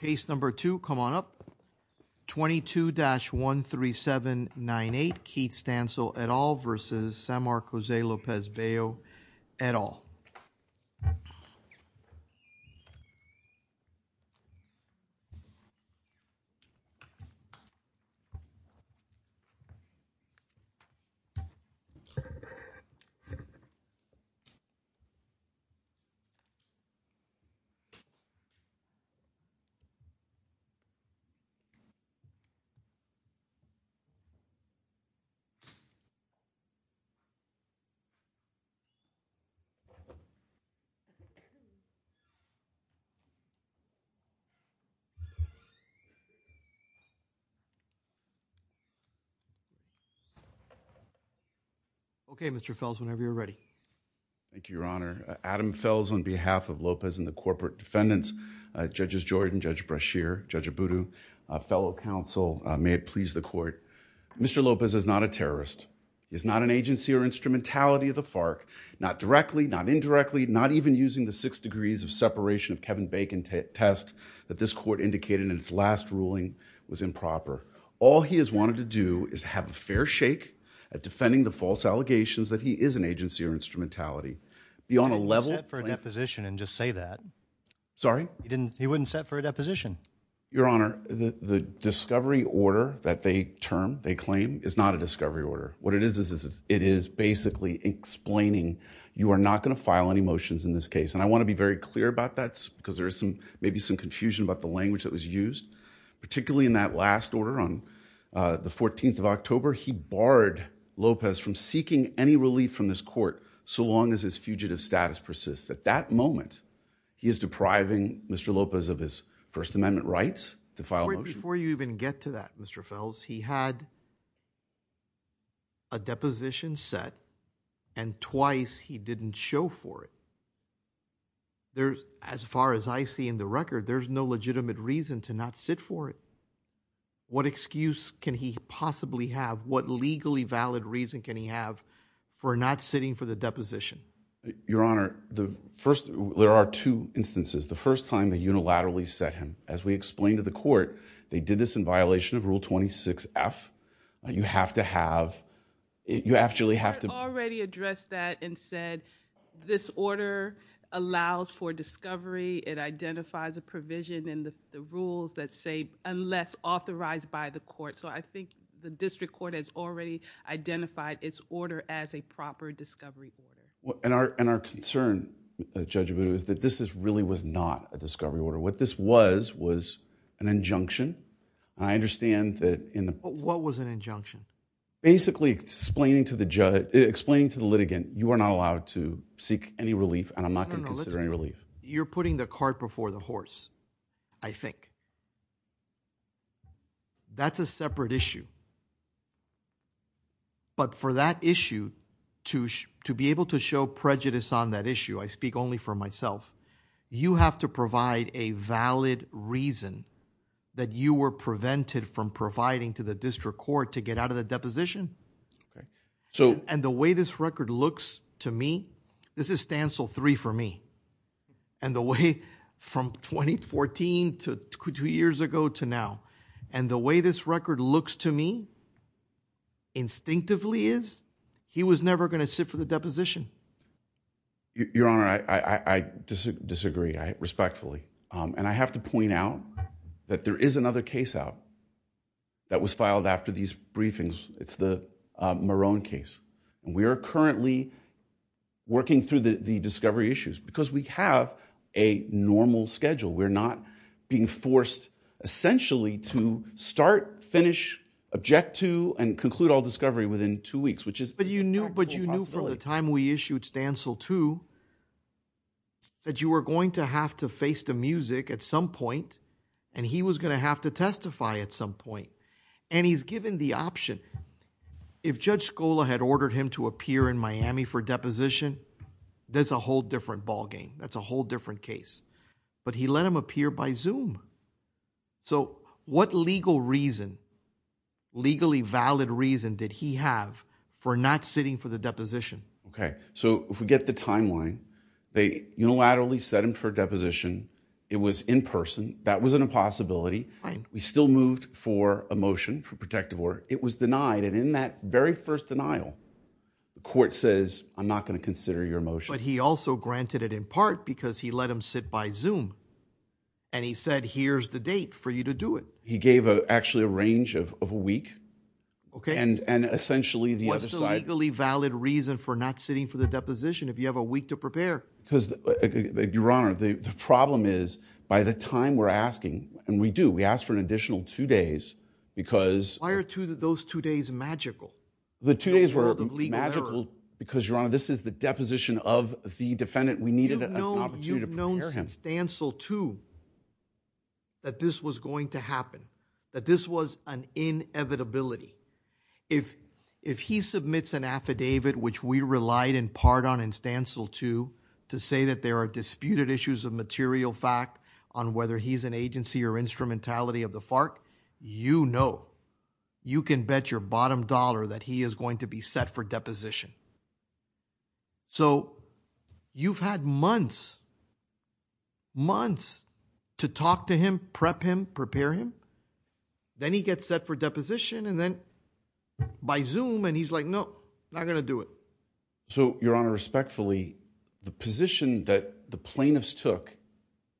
case number two come on up 22-13798 Keith Stansell et al versus Samark Jose Lopez Bello okay Mr. Fels whenever you're ready Thank You Your Honor Adam Fels on behalf of Lopez and the corporate defendants Judges Jordan, Judge Brashear, Judge Abudu, fellow counsel may it please the court Mr. Lopez is not a terrorist he is not an agency or instrumentality of the FARC not directly not indirectly not even using the six degrees of separation of Kevin Bacon test that this court indicated in its last ruling was improper all he has wanted to do is have a fair shake at defending the false allegations that he is an agency or instrumentality beyond a level for a deposition and just say that sorry he didn't he wouldn't set for a deposition Your Honor the discovery order that they term they claim is not a discovery order what it is is it is basically explaining you are not going to file any motions in this case and I want to be very clear about that because there is some maybe some confusion about the language that was used particularly in that last order on the 14th of October he barred Lopez from seeking any relief from this court so long as his fugitive status persists at that moment he is depriving Mr. Lopez of his First before you even get to that Mr. Fels he had a deposition set and twice he didn't show for it there's as far as I see in the record there's no legitimate reason to not sit for it what excuse can he possibly have what legally valid reason can he have for not sitting for the deposition your honor the first there are two instances the first time the unilaterally set him as we explained to the court they did this in violation of rule 26 F you have to have you actually have to already address that and said this order allows for discovery it identifies a provision in the rules that say unless authorized by the court so I think the district court has already identified its order as a proper discovery well and our and our concern judge boot is that this is really was not a discovery order what this was was an injunction I understand that in the what was an injunction basically explaining to the judge explaining to the litigant you are not allowed to seek any relief and I'm not gonna consider any relief you're putting the cart before the horse I think that's a separate issue but for that issue to be able to show prejudice on that issue I speak only for myself you have to provide a valid reason that you were prevented from providing to the district court to get out of the deposition so and the way this record looks to me this is Stansell three for me and the way from 2014 to two years ago to now and the way this record looks to me instinctively is he was never going to sit for the your honor I disagree I respectfully and I have to point out that there is another case out that was filed after these briefings it's the Marone case we are currently working through the discovery issues because we have a normal schedule we're not being forced essentially to start finish object to and conclude all discovery within two weeks which is but you knew but you knew from the time we issued Stansell to that you were going to have to face the music at some point and he was gonna have to testify at some point and he's given the option if judge Scola had ordered him to appear in Miami for deposition there's a whole different ballgame that's a whole different case but he let him appear by zoom so what legal reason legally valid reason did he for not sitting for the deposition okay so if we get the timeline they unilaterally set him for deposition it was in person that was an impossibility we still moved for a motion for protective order it was denied and in that very first denial the court says I'm not going to consider your motion he also granted it in part because he let him sit by zoom and he said here's the date for you to do it he gave a actually a range of a week okay and and essentially the other side legally valid reason for not sitting for the deposition if you have a week to prepare because the your honor the problem is by the time we're asking and we do we ask for an additional two days because why are two that those two days magical the two days were magical because you're on this is the deposition of the defendant we needed an opportunity to prepare him Stansell to that this was going to happen that this was an inevitability if he submits an affidavit which we relied in part on in Stansell to to say that there are disputed issues of material fact on whether he's an agency or instrumentality of the FARC you know you can bet your bottom dollar that he is going to be set for deposition so you've had months months to talk to him prep him prepare him then he gets set for deposition and then by zoom and he's like no I'm gonna do it so your honor respectfully the position that the plaintiffs took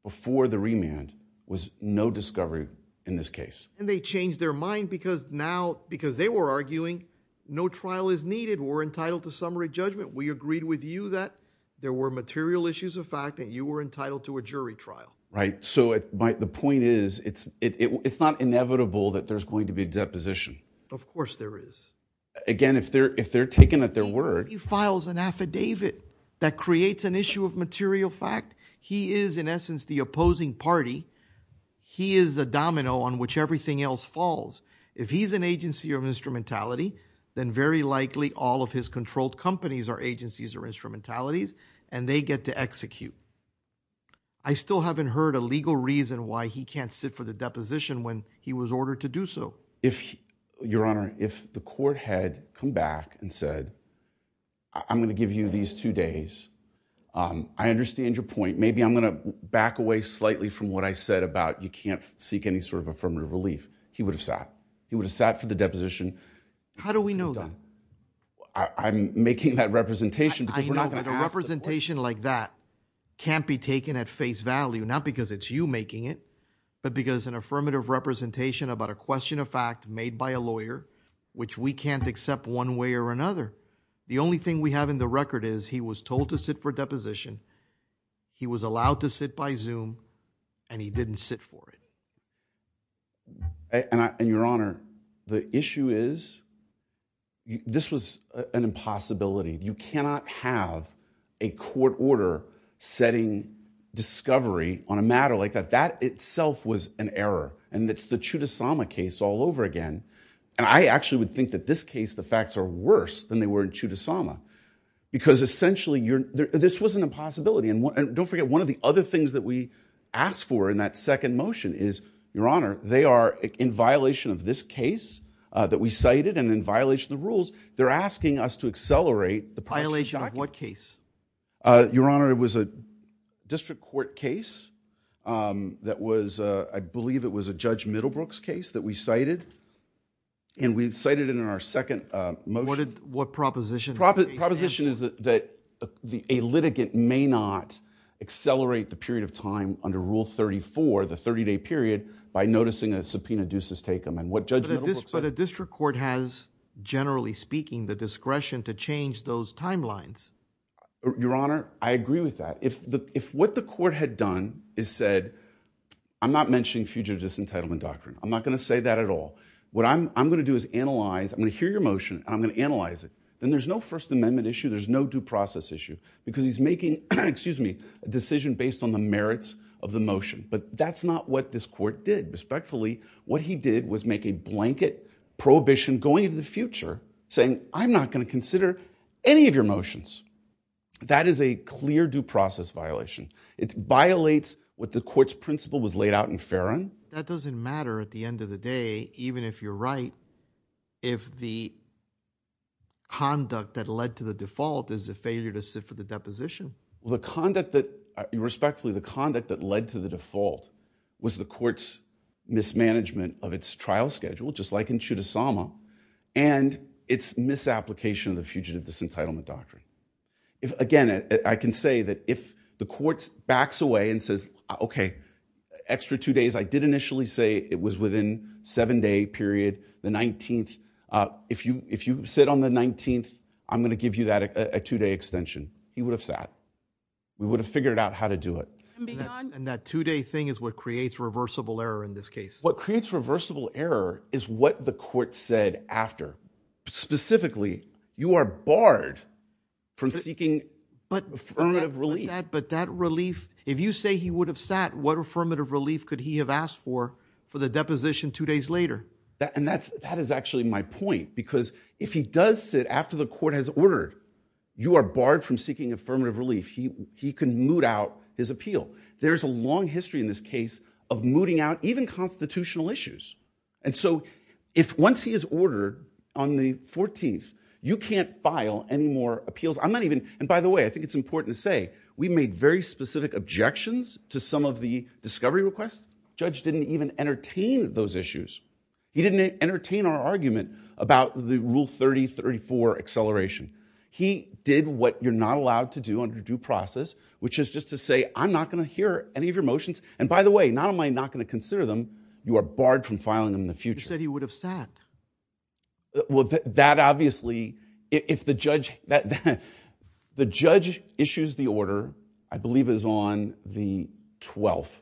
before the remand was no discovery in this case and they changed their mind because now because they were arguing no trial is needed were entitled to summary judgment we agreed with you that there were material issues of fact you were entitled to a jury trial right so it might the point is it's it's not inevitable that there's going to be a deposition of course there is again if they're if they're taken at their word he files an affidavit that creates an issue of material fact he is in essence the opposing party he is the domino on which everything else falls if he's an agency of instrumentality then very likely all of his controlled companies are agencies or instrumentalities and they get to execute I still haven't heard a legal reason why he can't sit for the deposition when he was ordered to do so if your honor if the court had come back and said I'm gonna give you these two days I understand your point maybe I'm gonna back away slightly from what I said about you can't seek any sort of affirmative relief he would have sat he would have sat for the deposition how do we know that I'm making that representation representation like that can't be taken at face value not because it's you making it but because an affirmative representation about a question of fact made by a lawyer which we can't accept one way or another the only thing we have in the record is he was told to sit for deposition he was allowed to sit by zoom and he didn't sit for it and your honor the issue is this was an impossibility you cannot have a court order setting discovery on a matter like that that itself was an error and that's the true to Sama case all over again and I actually would think that this case the facts are worse than they were in two to Sama because essentially you're there this was an impossibility and don't forget one of the other things that we asked for in that second motion is your honor they are in violation of this case that we cited and in violation the rules they're asking us to accelerate the violation of what case your honor it was a district court case that was I believe it was a judge Middlebrooks case that we cited and we've cited in our second what did what proposition proposition is that the a litigant may not accelerate the period of time under rule 34 the 30-day period by noticing a subpoena deuces take them and what judge but a district court has generally speaking the discretion to change those timelines your honor I agree with that if the if what the court had done is said I'm not mentioning future disentitlement doctrine I'm not gonna say that at all what I'm gonna do is analyze I'm gonna hear your motion I'm gonna analyze it and there's no First Amendment issue there's no due process issue because he's making excuse me a decision based on the merits of the motion but that's not what this court did respectfully what he did was make a blanket prohibition going into the future saying I'm not gonna consider any of your motions that is a clear due process violation it violates what the courts principle was laid out in Farron that doesn't matter at the end of the day even if you're right if the conduct that led to the default is a failure to sit for the deposition the conduct that you respectfully the conduct that led to the default was the courts mismanagement of its trial schedule just like in Chudasama and its misapplication of the fugitive disentitlement doctrine if again I can say that if the courts backs away and says okay extra two days I did in seven day period the 19th if you if you sit on the 19th I'm gonna give you that a two-day extension he would have sat we would have figured out how to do it and that two-day thing is what creates reversible error in this case what creates reversible error is what the court said after specifically you are barred from seeking but that relief if you say he would have sat what deposition two days later and that's that is actually my point because if he does sit after the court has ordered you are barred from seeking affirmative relief he he can moot out his appeal there's a long history in this case of mooting out even constitutional issues and so if once he is ordered on the 14th you can't file any more appeals I'm not even and by the way I think it's important to say we made very specific objections to some of the discovery requests judge didn't even entertain those issues he didn't entertain our argument about the rule 3034 acceleration he did what you're not allowed to do under due process which is just to say I'm not gonna hear any of your motions and by the way not am I not going to consider them you are barred from filing in the future he would have sat well that obviously if the judge the judge issues the order I believe is on the 12th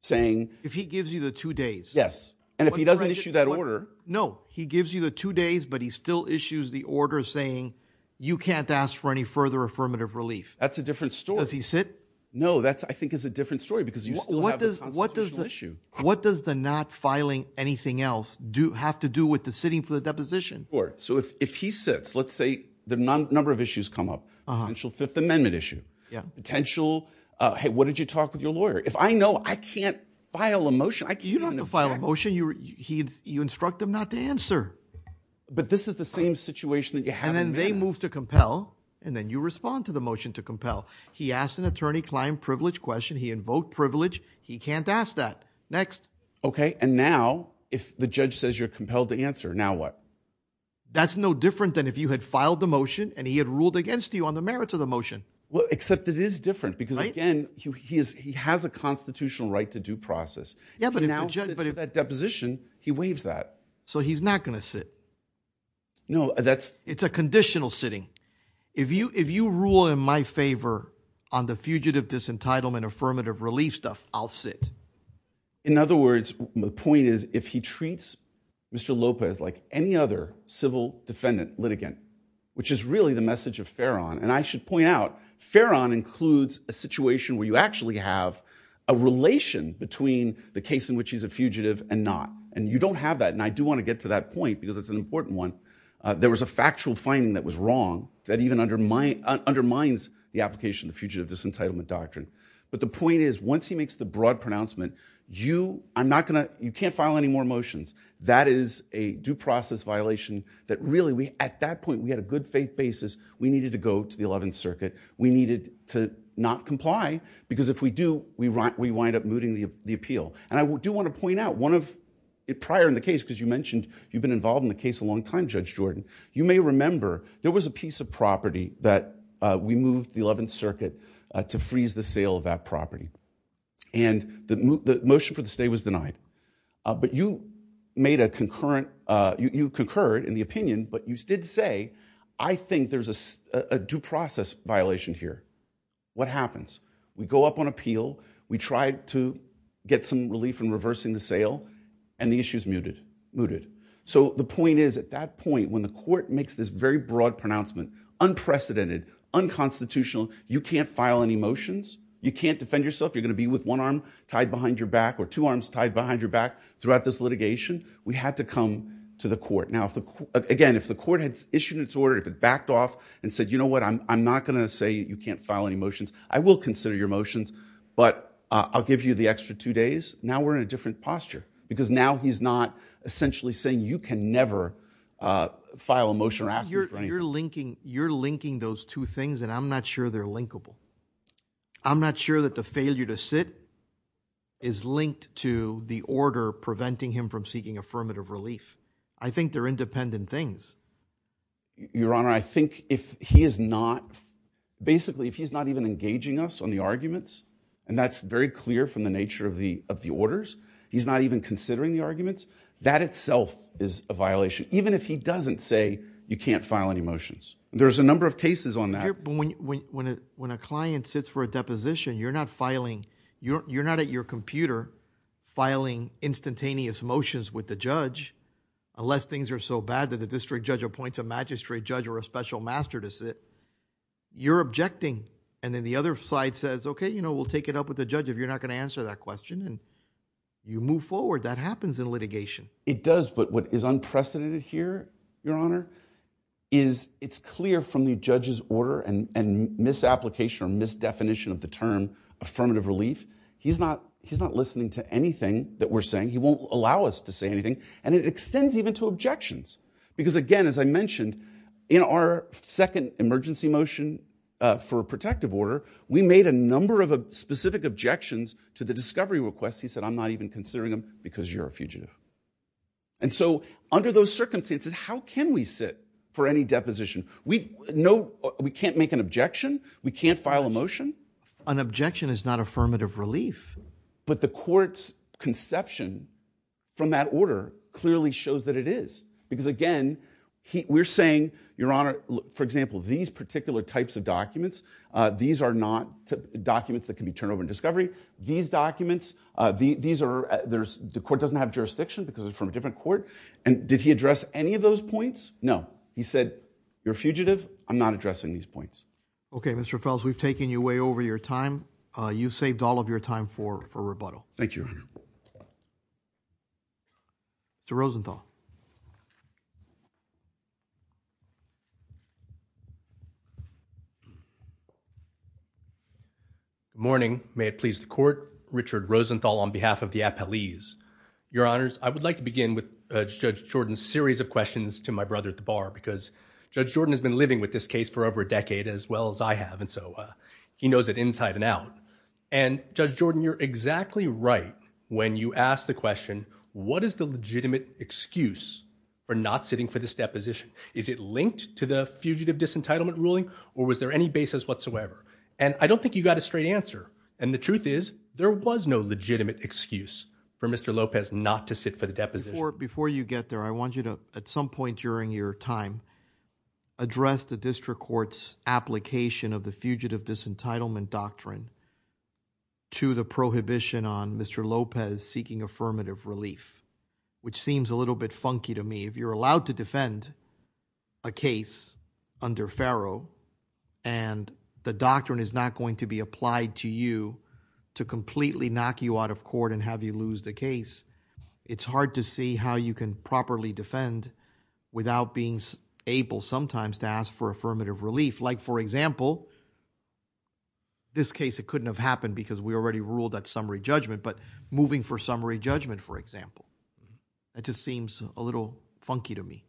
saying if he gives you the two days yes and if he doesn't issue that order no he gives you the two days but he still issues the order saying you can't ask for any further affirmative relief that's a different story as he said no that's I think is a different story because you what does what does the issue what does the not filing anything else do have to do with the sitting for the deposition or so if he sits let's say the number of issues come up and she'll Fifth Amendment issue yeah potential hey what did you talk with your lawyer if I know I can't file a motion I can you don't have to file a motion you heeds you instruct them not to answer but this is the same situation that you have and then they move to compel and then you respond to the motion to compel he asked an attorney client privilege question he invoked privilege he can't ask that next okay and now if the judge says you're compelled to answer now what that's no different than if you had filed the motion and he had ruled against you on the merits of the motion well except it is different because again he is he has a constitutional right to due process yeah but if that deposition he waves that so he's not gonna sit no that's it's a conditional sitting if you if you rule in my favor on the fugitive disentitlement affirmative relief stuff I'll sit in other words the point is if he treats mr. Lopez like any other civil defendant litigant which is really the message of Farron and I should point out Farron includes a situation where you actually have a relation between the case in which he's a fugitive and not and you don't have that and I do want to get to that point because it's an important one there was a factual finding that was wrong that even under my undermines the application the fugitive disentitlement doctrine but the point is once he makes the broad pronouncement you I'm not gonna you can't file any more motions that is a process violation that really we at that point we had a good faith basis we needed to go to the 11th Circuit we needed to not comply because if we do we write we wind up mooting the appeal and I do want to point out one of it prior in the case because you mentioned you've been involved in the case a long time judge Jordan you may remember there was a piece of property that we moved the 11th Circuit to freeze the sale of that property and the motion for the was denied but you made a concurrent you concurred in the opinion but you did say I think there's a due process violation here what happens we go up on appeal we tried to get some relief from reversing the sale and the issues muted mooted so the point is at that point when the court makes this very broad pronouncement unprecedented unconstitutional you can't file any motions you can't defend yourself you're gonna be with one arm tied behind your back or two arms tied behind your back throughout this litigation we had to come to the court now if the again if the court had issued its order if it backed off and said you know what I'm not gonna say you can't file any motions I will consider your motions but I'll give you the extra two days now we're in a different posture because now he's not essentially saying you can never file a motion or ask your linking you're linking those two things and I'm not that the failure to sit is linked to the order preventing him from seeking affirmative relief I think they're independent things your honor I think if he is not basically if he's not even engaging us on the arguments and that's very clear from the nature of the of the orders he's not even considering the arguments that itself is a violation even if he doesn't say you can't file any motions there's a number of cases on that when when it when a client sits for deposition you're not filing you're not at your computer filing instantaneous motions with the judge unless things are so bad that the district judge appoints a magistrate judge or a special master to sit you're objecting and then the other side says okay you know we'll take it up with the judge if you're not gonna answer that question and you move forward that happens in litigation it does but what is unprecedented here your honor is it's clear from the judge's and and misapplication or misdefinition of the term affirmative relief he's not he's not listening to anything that we're saying he won't allow us to say anything and it extends even to objections because again as I mentioned in our second emergency motion for a protective order we made a number of a specific objections to the discovery request he said I'm not even considering them because you're a fugitive and so under those circumstances how can we sit for any deposition we know we can't make an objection we can't file a motion an objection is not affirmative relief but the court's conception from that order clearly shows that it is because again we're saying your honor for example these particular types of documents these are not documents that can be turned over in discovery these documents these are there's the court doesn't have jurisdiction because it's from a different court and did he said you're a fugitive I'm not addressing these points okay mr. Fels we've taken you way over your time you saved all of your time for for rebuttal thank you mr. Rosenthal morning may it please the court Richard Rosenthal on behalf of the appellees your honors I would like to begin with judge Jordan's series of questions to my brother at the bar because judge Jordan has been living with this case for over a decade as well as I have and so he knows it inside and out and judge Jordan you're exactly right when you ask the question what is the legitimate excuse for not sitting for this deposition is it linked to the fugitive disentitlement ruling or was there any basis whatsoever and I don't think you got a straight answer and the truth is there was no legitimate excuse for mr. Lopez not to sit for the deposition before you get there I want you to at some point during your time address the district courts application of the fugitive disentitlement doctrine to the prohibition on mr. Lopez seeking affirmative relief which seems a little bit funky to me if you're allowed to defend a case under Pharaoh and the doctrine is not going to be applied to you to completely knock you out of court and have you lose the case it's hard to see how you can properly defend without being able sometimes to ask for affirmative relief like for example this case it couldn't have happened because we already ruled that summary judgment but moving for summary judgment for example it just seems a little funky to me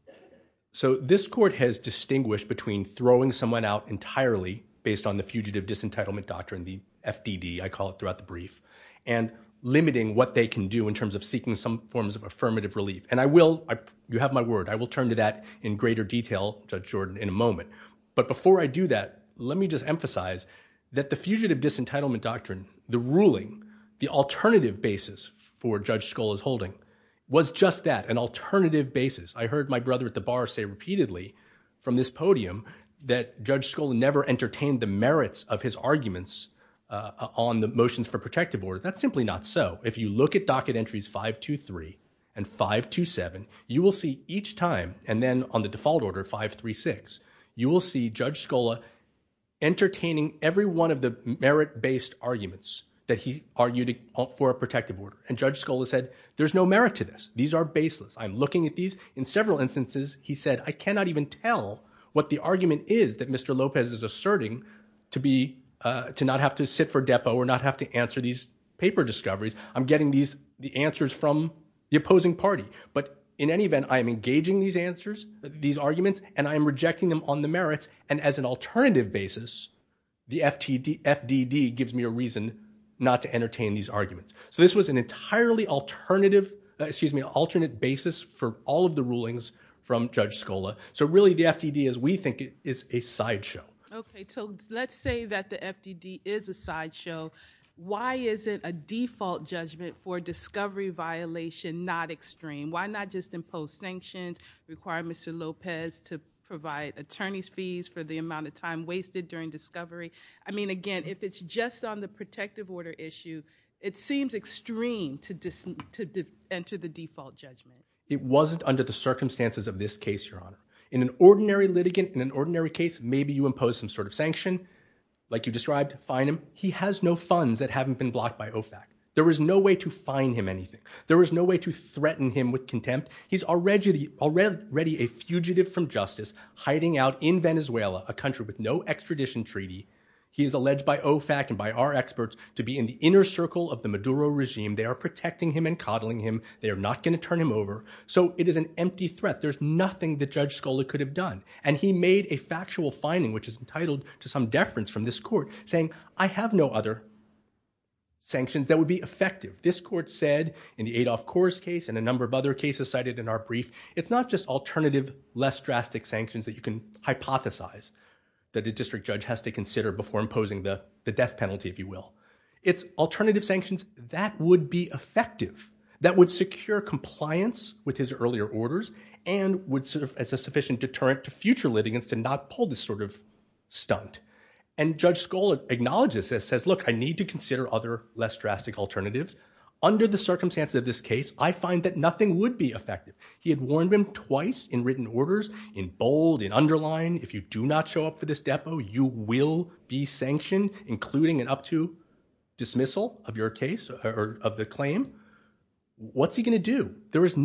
so this court has distinguished between throwing someone out entirely based on the fugitive disentitlement doctrine the FDD I call it throughout the brief and limiting what they can do in terms of seeking some forms of affirmative relief and I will I you have my word I will turn to that in greater detail judge Jordan in a moment but before I do that let me just emphasize that the fugitive disentitlement doctrine the ruling the alternative basis for judge skull is holding was just that an alternative basis I heard my brother at the bar say repeatedly from this podium that judge school never entertained the merits of his arguments on the motions for protective order that's simply not so if you look at docket entries 5 2 3 and 5 2 7 you will see each time and then on the default order 5 3 6 you will see judge Scola entertaining every one of the merit-based arguments that he argued for a protective order and judge school has said there's no merit to this these are baseless I'm looking at these in several instances he said I cannot even tell what the argument is that mr. Lopez is asserting to be to not have to sit for depo or not have to answer these paper discoveries I'm getting these the answers from the opposing party but in any event I am engaging these answers these arguments and I am rejecting them on the merits and as an alternative basis the FTD FDD gives me a reason not to entertain these arguments so this was an entirely alternative excuse me alternate basis for all of the rulings from judge Scola so really the FTD as we think it is a sideshow okay so let's say that the FTD is a sideshow why is it a default judgment for discovery violation not extreme why not just impose sanctions require mr. Lopez to provide attorneys fees for the amount of time wasted during discovery I mean again if it's just on the protective order issue it seems extreme to just to enter the default judgment it wasn't under the case maybe you impose some sort of sanction like you described fine him he has no funds that haven't been blocked by OFAC there was no way to find him anything there was no way to threaten him with contempt he's already already a fugitive from justice hiding out in Venezuela a country with no extradition treaty he is alleged by OFAC and by our experts to be in the inner circle of the Maduro regime they are protecting him and coddling him they are not going to turn him over so it is an empty threat there's nothing that judge Scola could have done and he made a factual finding which is entitled to some deference from this court saying I have no other sanctions that would be effective this court said in the Adolph Coors case and a number of other cases cited in our brief it's not just alternative less drastic sanctions that you can hypothesize that the district judge has to consider before imposing the the death penalty if you will it's alternative sanctions that would be effective that would secure compliance with his earlier orders and would serve as a sufficient deterrent to future litigants to not pull this sort of stunt and judge Scola acknowledges this says look I need to consider other less drastic alternatives under the circumstances of this case I find that nothing would be effective he had warned him twice in written orders in bold and underline if you do not show up for this depo you will be sanctioned including an up to dismissal of your case or of the claim what's he gonna do there is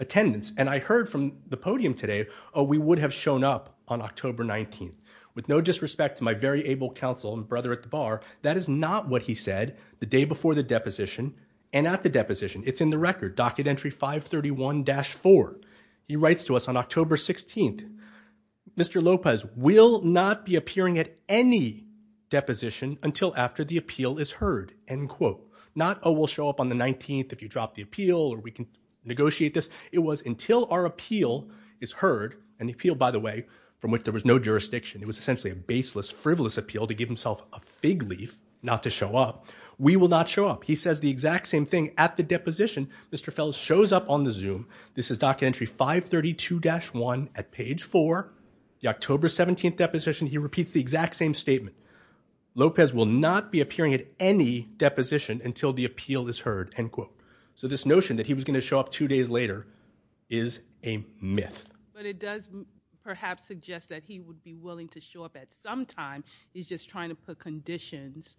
attendance and I heard from the podium today oh we would have shown up on October 19th with no disrespect to my very able counsel and brother at the bar that is not what he said the day before the deposition and at the deposition it's in the record docket entry 531 dash 4 he writes to us on October 16th mr. Lopez will not be appearing at any deposition until after the appeal is heard and quote not oh we'll show up on the 19th if you drop the appeal or we can negotiate this it was until our appeal is heard and the appeal by the way from which there was no jurisdiction it was essentially a baseless frivolous appeal to give himself a fig leaf not to show up we will not show up he says the exact same thing at the deposition mr. fells shows up on the zoom this is docket entry 532 dash 1 at page 4 the October 17th deposition he repeats the exact same statement Lopez will not be appearing at any deposition until the show up two days later is a myth but it does perhaps suggest that he would be willing to show up at some time he's just trying to put conditions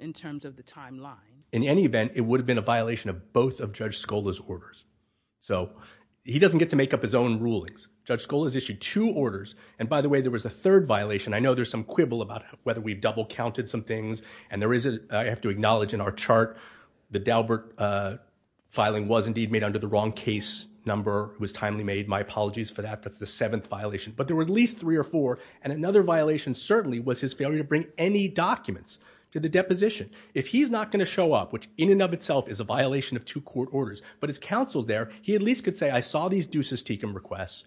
in terms of the timeline in any event it would have been a violation of both of judge Scola's orders so he doesn't get to make up his own rulings judge school has issued two orders and by the way there was a third violation I know there's some quibble about whether we've double counted some things and there is a I made under the wrong case number was timely made my apologies for that that's the seventh violation but there were at least three or four and another violation certainly was his failure to bring any documents to the deposition if he's not going to show up which in and of itself is a violation of two court orders but it's counseled there he at least could say I saw these deuces teakum requests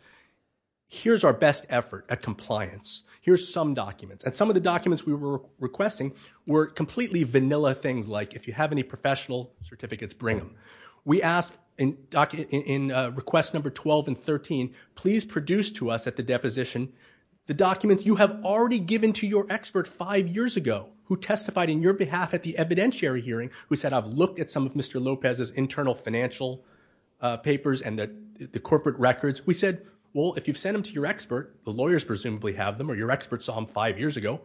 here's our best effort at compliance here's some documents and some of the documents we were requesting were completely vanilla things like if you have any professional certificates bring them we asked in document in request number 12 and 13 please produce to us at the deposition the documents you have already given to your expert five years ago who testified in your behalf at the evidentiary hearing we said I've looked at some of mr. Lopez's internal financial papers and that the corporate records we said well if you've sent them to your expert the lawyers presumably have them or your experts on five years ago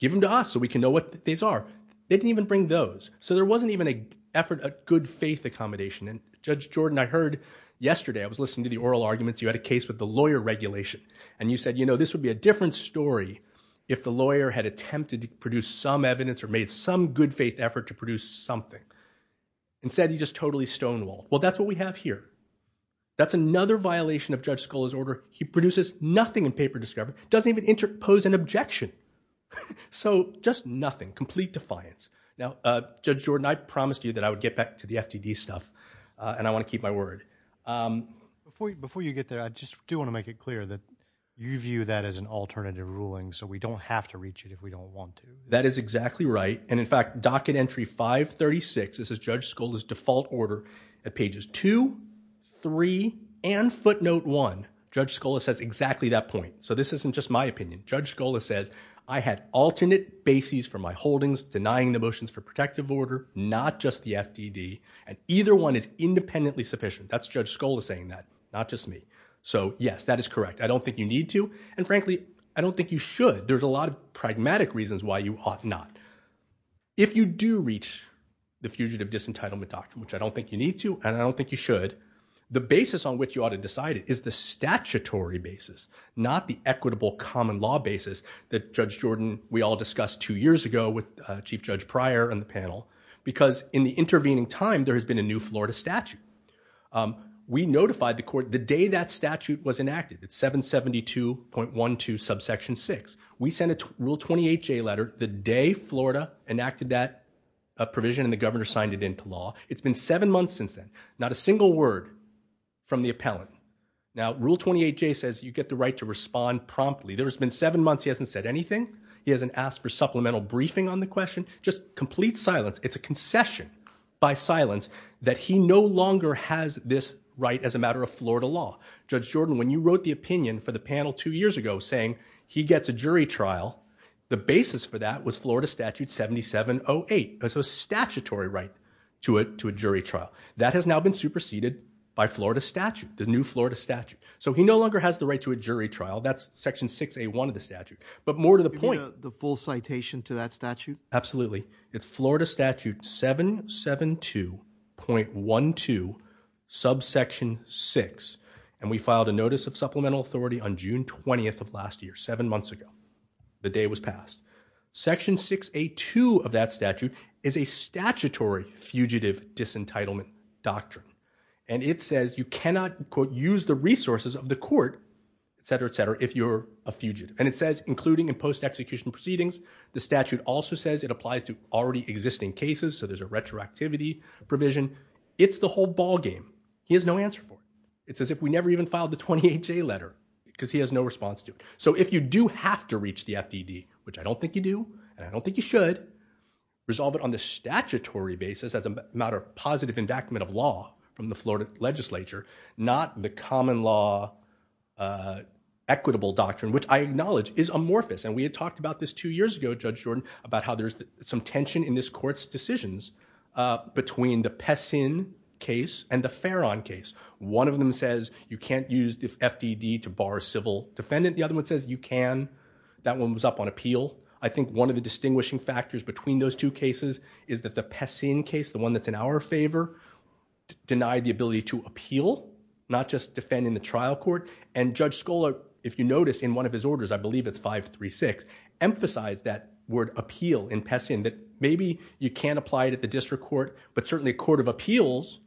give them to us so we can know what these are they didn't even bring those so there wasn't even a effort a good-faith accommodation and judge Jordan I heard yesterday I was listening to the oral arguments you had a case with the lawyer regulation and you said you know this would be a different story if the lawyer had attempted to produce some evidence or made some good-faith effort to produce something and said he just totally stonewalled well that's what we have here that's another violation of Judge Scola's order he produces nothing in paper discovery doesn't even interpose an objection so just nothing complete defiance now judge Jordan I promised you that I would get back to the FTD stuff and I want to keep my word before you get there I just do want to make it clear that you view that as an alternative ruling so we don't have to reach it if we don't want to that is exactly right and in fact docket entry 536 this is Judge Scola's default order at pages 2 3 and footnote 1 Judge Scola says exactly that point so this isn't just my opinion Judge Scola says I had alternate bases for my holdings denying the motions for protective order not just the FTD and either one is independently sufficient that's Judge Scola saying that not just me so yes that is correct I don't think you need to and frankly I don't think you should there's a lot of pragmatic reasons why you ought not if you do reach the fugitive disentitlement doctrine which I don't think you need to and I don't think you should the basis on which you ought to decide it is the statutory basis not the equitable common law basis that Judge Jordan we all discussed two years ago with Chief Judge Pryor on the panel because in the intervening time there has been a new Florida statute we notified the court the day that statute was enacted at 772.12 subsection 6 we sent a rule 28 J letter the day Florida enacted that provision and the governor signed it into law it's been seven months since then not a single word from the appellant now rule 28 J says you get the right to respond promptly there's been seven months he hasn't said anything he hasn't asked for supplemental briefing on the question just complete silence it's a concession by silence that he no longer has this right as a matter of Florida law Judge Jordan when you wrote the opinion for the panel two years ago saying he gets a jury trial the basis for that was Florida statute 7708 as a statutory right to it to a jury trial that has now been superseded by Florida statute the new Florida statute so he no longer has the right to a jury trial that's section 6a one of the statute but more to the point the full citation to that statute absolutely it's Florida statute 772.12 subsection 6 and we filed a notice of supplemental authority on June 20th of the day was passed section 682 of that statute is a statutory fugitive disentitlement doctrine and it says you cannot quote use the resources of the court etc etc if you're a fugitive and it says including in post-execution proceedings the statute also says it applies to already existing cases so there's a retroactivity provision it's the whole ballgame he has no answer for it it's as if we never even filed the 28 J letter because he has no response to it so if you do have to reach the FDD which I don't think you do and I don't think you should resolve it on the statutory basis as a matter of positive endowment of law from the Florida legislature not the common law equitable doctrine which I acknowledge is amorphous and we had talked about this two years ago judge Jordan about how there's some tension in this courts decisions between the Pessin case and the Farron case one of them says you can that one was up on appeal I think one of the distinguishing factors between those two cases is that the Pessin case the one that's in our favor denied the ability to appeal not just defend in the trial court and judge Scola if you notice in one of his orders I believe it's five three six emphasized that word appeal in Pessin that maybe you can't apply it at the district court but certainly a court of appeals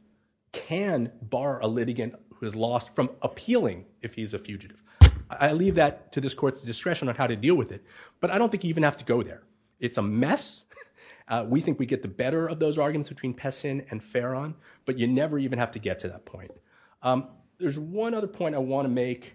can bar a litigant who has lost from appealing if he's a fugitive I leave that to this court's discretion on how to deal with it but I don't think you even have to go there it's a mess we think we get the better of those arguments between Pessin and Farron but you never even have to get to that point there's one other point I want to make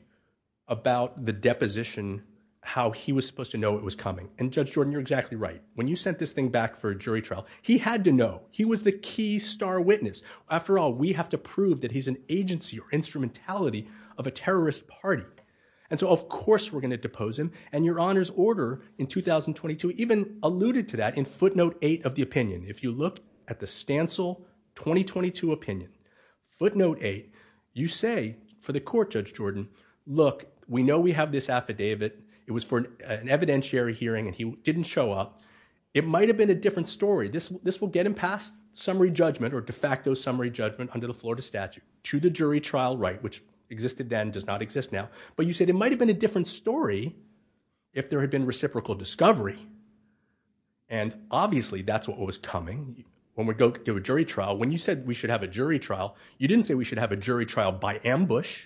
about the deposition how he was supposed to know it was coming and judge Jordan you're exactly right when you sent this thing back for a jury trial he had to know he was the key star witness after all we have to prove that he's an agency or instrumentality of a terrorist party and so of course we're gonna depose him and your honor's order in 2022 even alluded to that in footnote 8 of the opinion if you look at the stancel 2022 opinion footnote 8 you say for the court judge Jordan look we know we have this affidavit it was for an evidentiary hearing and he didn't show up it might have been a different story this this will get him past summary judgment or de facto summary judgment under the jury trial right which existed then does not exist now but you said it might have been a different story if there had been reciprocal discovery and obviously that's what was coming when we go to a jury trial when you said we should have a jury trial you didn't say we should have a jury trial by ambush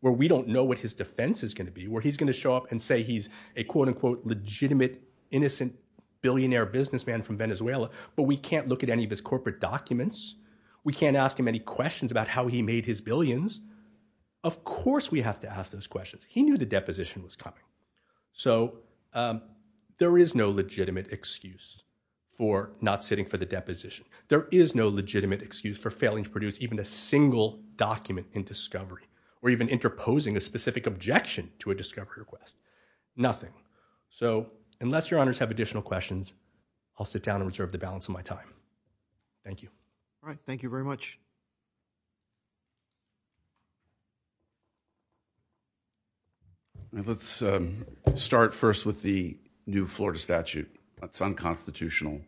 where we don't know what his defense is gonna be where he's gonna show up and say he's a quote-unquote legitimate innocent billionaire businessman from Venezuela but we can't look at any of his corporate documents we can't ask him any of course we have to ask those questions he knew the deposition was coming so there is no legitimate excuse for not sitting for the deposition there is no legitimate excuse for failing to produce even a single document in discovery or even interposing a specific objection to a discovery request nothing so unless your honors have additional questions I'll sit down and reserve the balance of my time thank you all right thank you very much you let's start first with the new Florida statute that's unconstitutional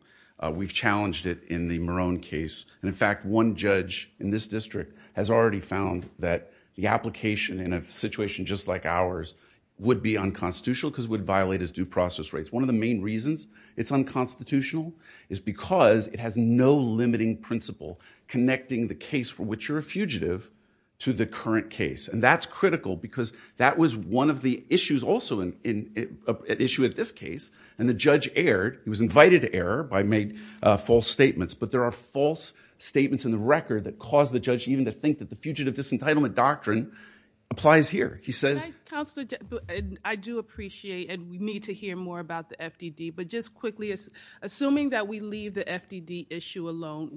we've challenged it in the Morone case and in fact one judge in this district has already found that the application in a situation just like ours would be unconstitutional because would violate his due process rates one of the main reasons it's unconstitutional is because it has no limiting principle connecting the case for which you're a fugitive to the current case and that's critical because that was one of the issues also in an issue at this case and the judge erred he was invited to error by made false statements but there are false statements in the record that caused the judge even to think that the fugitive disentitlement doctrine applies here he says I do appreciate and we need to hear more about the FDD but just quickly as assuming that we leave the FDD issue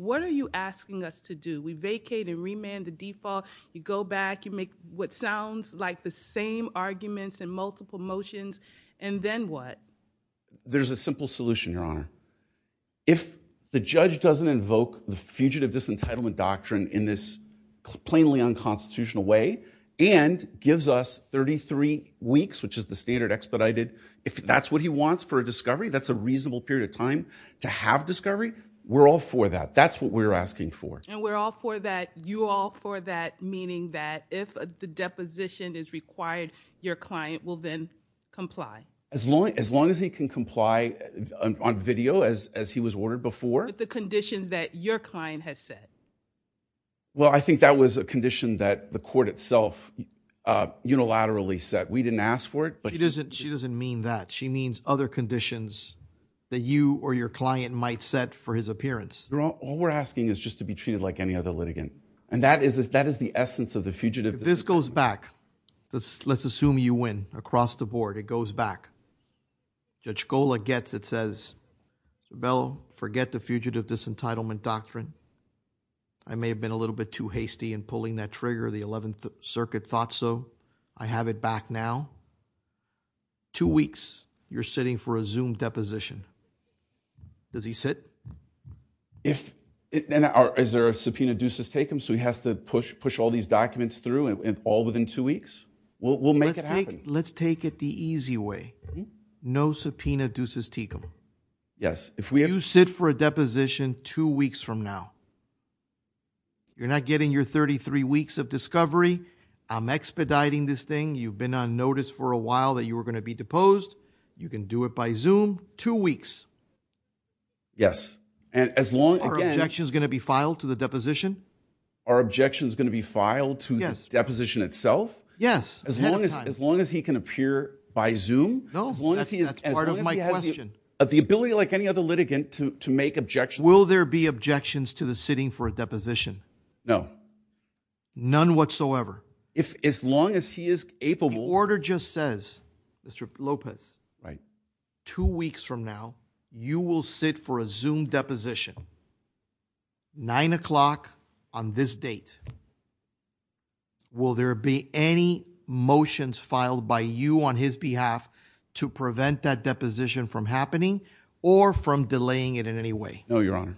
what are you asking us to do we vacate and remand the default you go back you make what sounds like the same arguments and multiple motions and then what there's a simple solution your honor if the judge doesn't invoke the fugitive disentitlement doctrine in this plainly unconstitutional way and gives us 33 weeks which is the standard expedited if that's what he wants for a discovery that's a reasonable period of time to have discovery we're all for that that's what we're asking for and we're all for that you all for that meaning that if the deposition is required your client will then comply as long as long as he can comply on video as as he was ordered before the conditions that your client has said well I think that was a condition that the court itself unilaterally said we didn't ask for it but it isn't she doesn't mean that she means other conditions that you or your client might set for his appearance we're all we're asking is just to be treated like any other litigant and that is that is the essence of the fugitive this goes back this let's assume you win across the board it goes back just go like gets it says well forget the fugitive disentitlement doctrine I may have been a little bit too hasty and pulling that trigger the 11th Circuit thought so I have it back now two weeks you're sitting for a zoom deposition does he sit if it then our is there a subpoena deuces take him so he has to push push all these documents through and all within two weeks well we'll make it let's take it the easy way no subpoena deuces take him yes if we have you sit for a deposition two weeks from now you're not getting your 33 weeks of discovery I'm expediting this thing you've been on notice for a while that you were going to be deposed you can do it by zoom two weeks yes and as long as action is going to be filed to the deposition our objections going to be filed to this deposition itself yes as long as as long as he can appear by zoom no as long as he is part of my question of the ability like any other litigant to make objections will there be objections to the sitting for a whatsoever if as long as he is able the order just says mr. Lopez right two weeks from now you will sit for a zoom deposition nine o'clock on this date will there be any motions filed by you on his behalf to prevent that deposition from happening or from delaying it in any way no your honor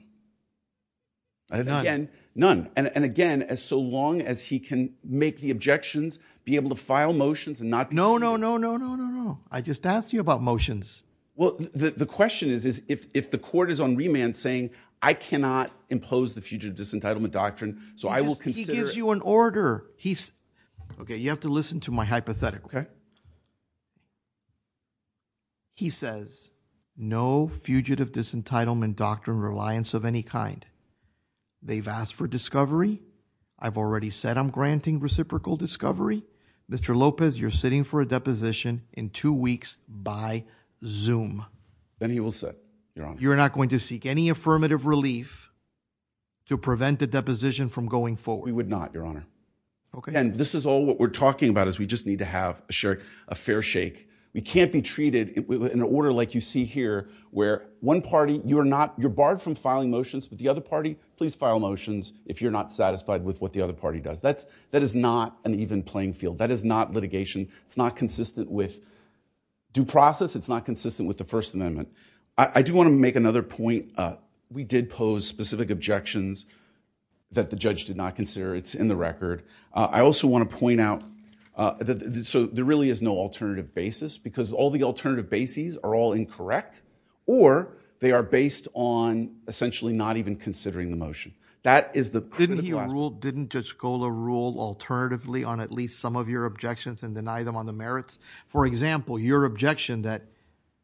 again none and again as so long as he can make the objections be able to file motions and not no no no no no no no I just asked you about motions well the question is is if the court is on remand saying I cannot impose the fugitive disentitlement doctrine so I will consider you an order he's okay you have to listen to my hypothetical he says no fugitive disentitlement doctrine reliance of any kind they've asked for discovery I've already said I'm granting reciprocal discovery mr. Lopez you're sitting for a deposition in two weeks by zoom then he will sit you're not going to seek any affirmative relief to prevent the deposition from going forward we would not your honor okay and this is all what we're talking about is we just need to have a share a fair shake we can't be treated in an order like you see here where one party you are not you're barred from filing motions with the other party please file motions if you're not satisfied with what the other party does that's that is not an even playing field that is not litigation it's not consistent with due process it's not consistent with the First Amendment I do want to make another point we did pose specific objections that the judge did not consider it's in the record I also want to point out that so there really is no alternative basis because all the alternative bases are all incorrect or they are based on essentially not even considering the motion that is the didn't rule didn't just go to rule alternatively on at least some of your objections and deny them on the merits for example your objection that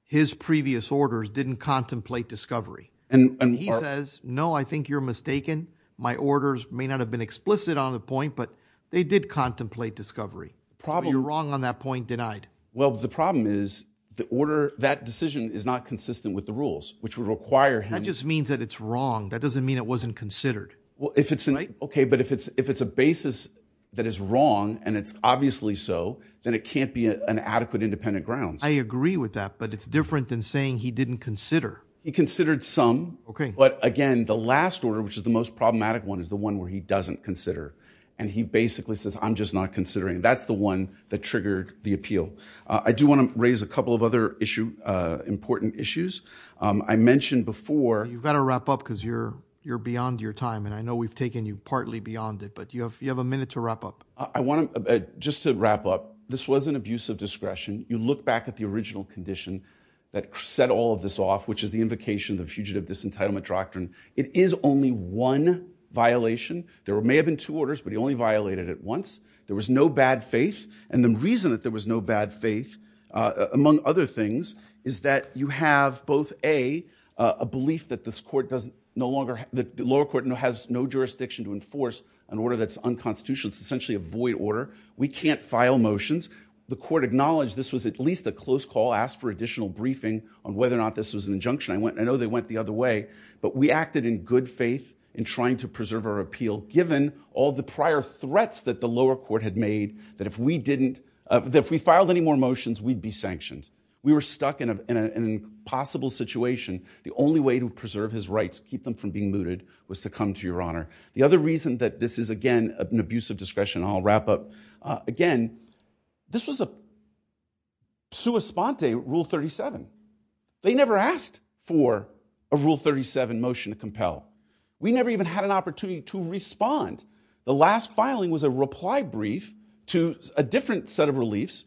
his previous orders didn't contemplate discovery and he says no I think you're mistaken my orders may not have been explicit on the point but they did contemplate discovery probably you're wrong on that point denied well the problem is the order that decision is not consistent with the rules which would require him just means that it's wrong that doesn't mean it wasn't considered well if it's a night okay but if it's if it's a basis that is wrong and it's obviously so then it can't be an adequate independent grounds I agree with that but it's different than saying he didn't consider he considered some okay but again the last order which is the most problematic one is the one where he doesn't consider and he triggered the appeal I do want to raise a couple of other issue important issues I mentioned before you've got to wrap up because you're you're beyond your time and I know we've taken you partly beyond it but you have you have a minute to wrap up I want to just to wrap up this was an abuse of discretion you look back at the original condition that set all of this off which is the invocation the fugitive disentitlement doctrine it is only one violation there may have been two orders but he only violated it once there was no bad faith and the reason that there was no bad faith among other things is that you have both a a belief that this court doesn't no longer the lower court no has no jurisdiction to enforce an order that's unconstitutional it's essentially a void order we can't file motions the court acknowledged this was at least a close call asked for additional briefing on whether or not this was an injunction I went I know they went the other way but we acted in good faith in trying to preserve our prior threats that the lower court had made that if we didn't if we filed any more motions we'd be sanctioned we were stuck in a possible situation the only way to preserve his rights keep them from being looted was to come to your honor the other reason that this is again an abusive discretion I'll wrap up again this was a sua sponte rule 37 they never asked for a rule 37 motion to respond the last filing was a reply brief to a different set of reliefs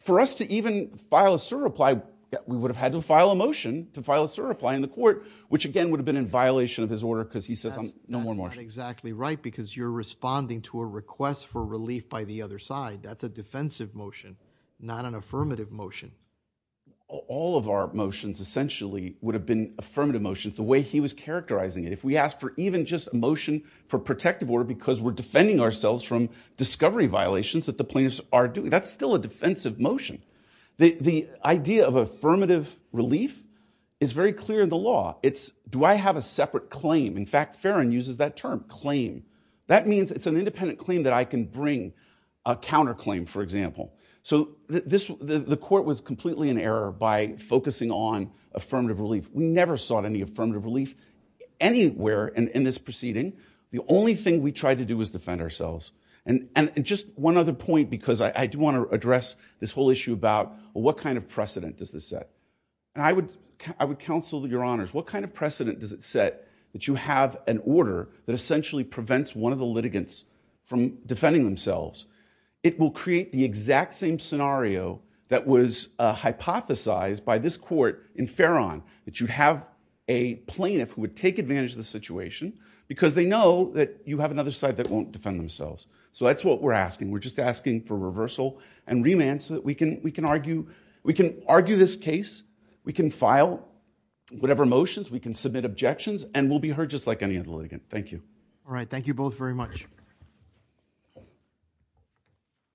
for us to even file a sir reply we would have had to file a motion to file a sir reply in the court which again would have been in violation of his order because he says I'm no more more exactly right because you're responding to a request for relief by the other side that's a defensive motion not an affirmative motion all of our motions essentially would have been affirmative motions the way he was characterizing it if we asked for even just a motion for protective order because we're defending ourselves from discovery violations that the plaintiffs are doing that's still a defensive motion the the idea of affirmative relief is very clear in the law it's do I have a separate claim in fact Farron uses that term claim that means it's an independent claim that I can bring a counterclaim for example so this the court was completely in error by focusing on affirmative relief we never sought any proceeding the only thing we tried to do is defend ourselves and and just one other point because I do want to address this whole issue about what kind of precedent does this set and I would I would counsel to your honors what kind of precedent does it set that you have an order that essentially prevents one of the litigants from defending themselves it will create the exact same scenario that was hypothesized by this court in Farron that you have a plaintiff who would take advantage of the situation because they know that you have another side that won't defend themselves so that's what we're asking we're just asking for reversal and remand so that we can we can argue we can argue this case we can file whatever motions we can submit objections and will be heard just like any other litigant thank you all right thank you both very much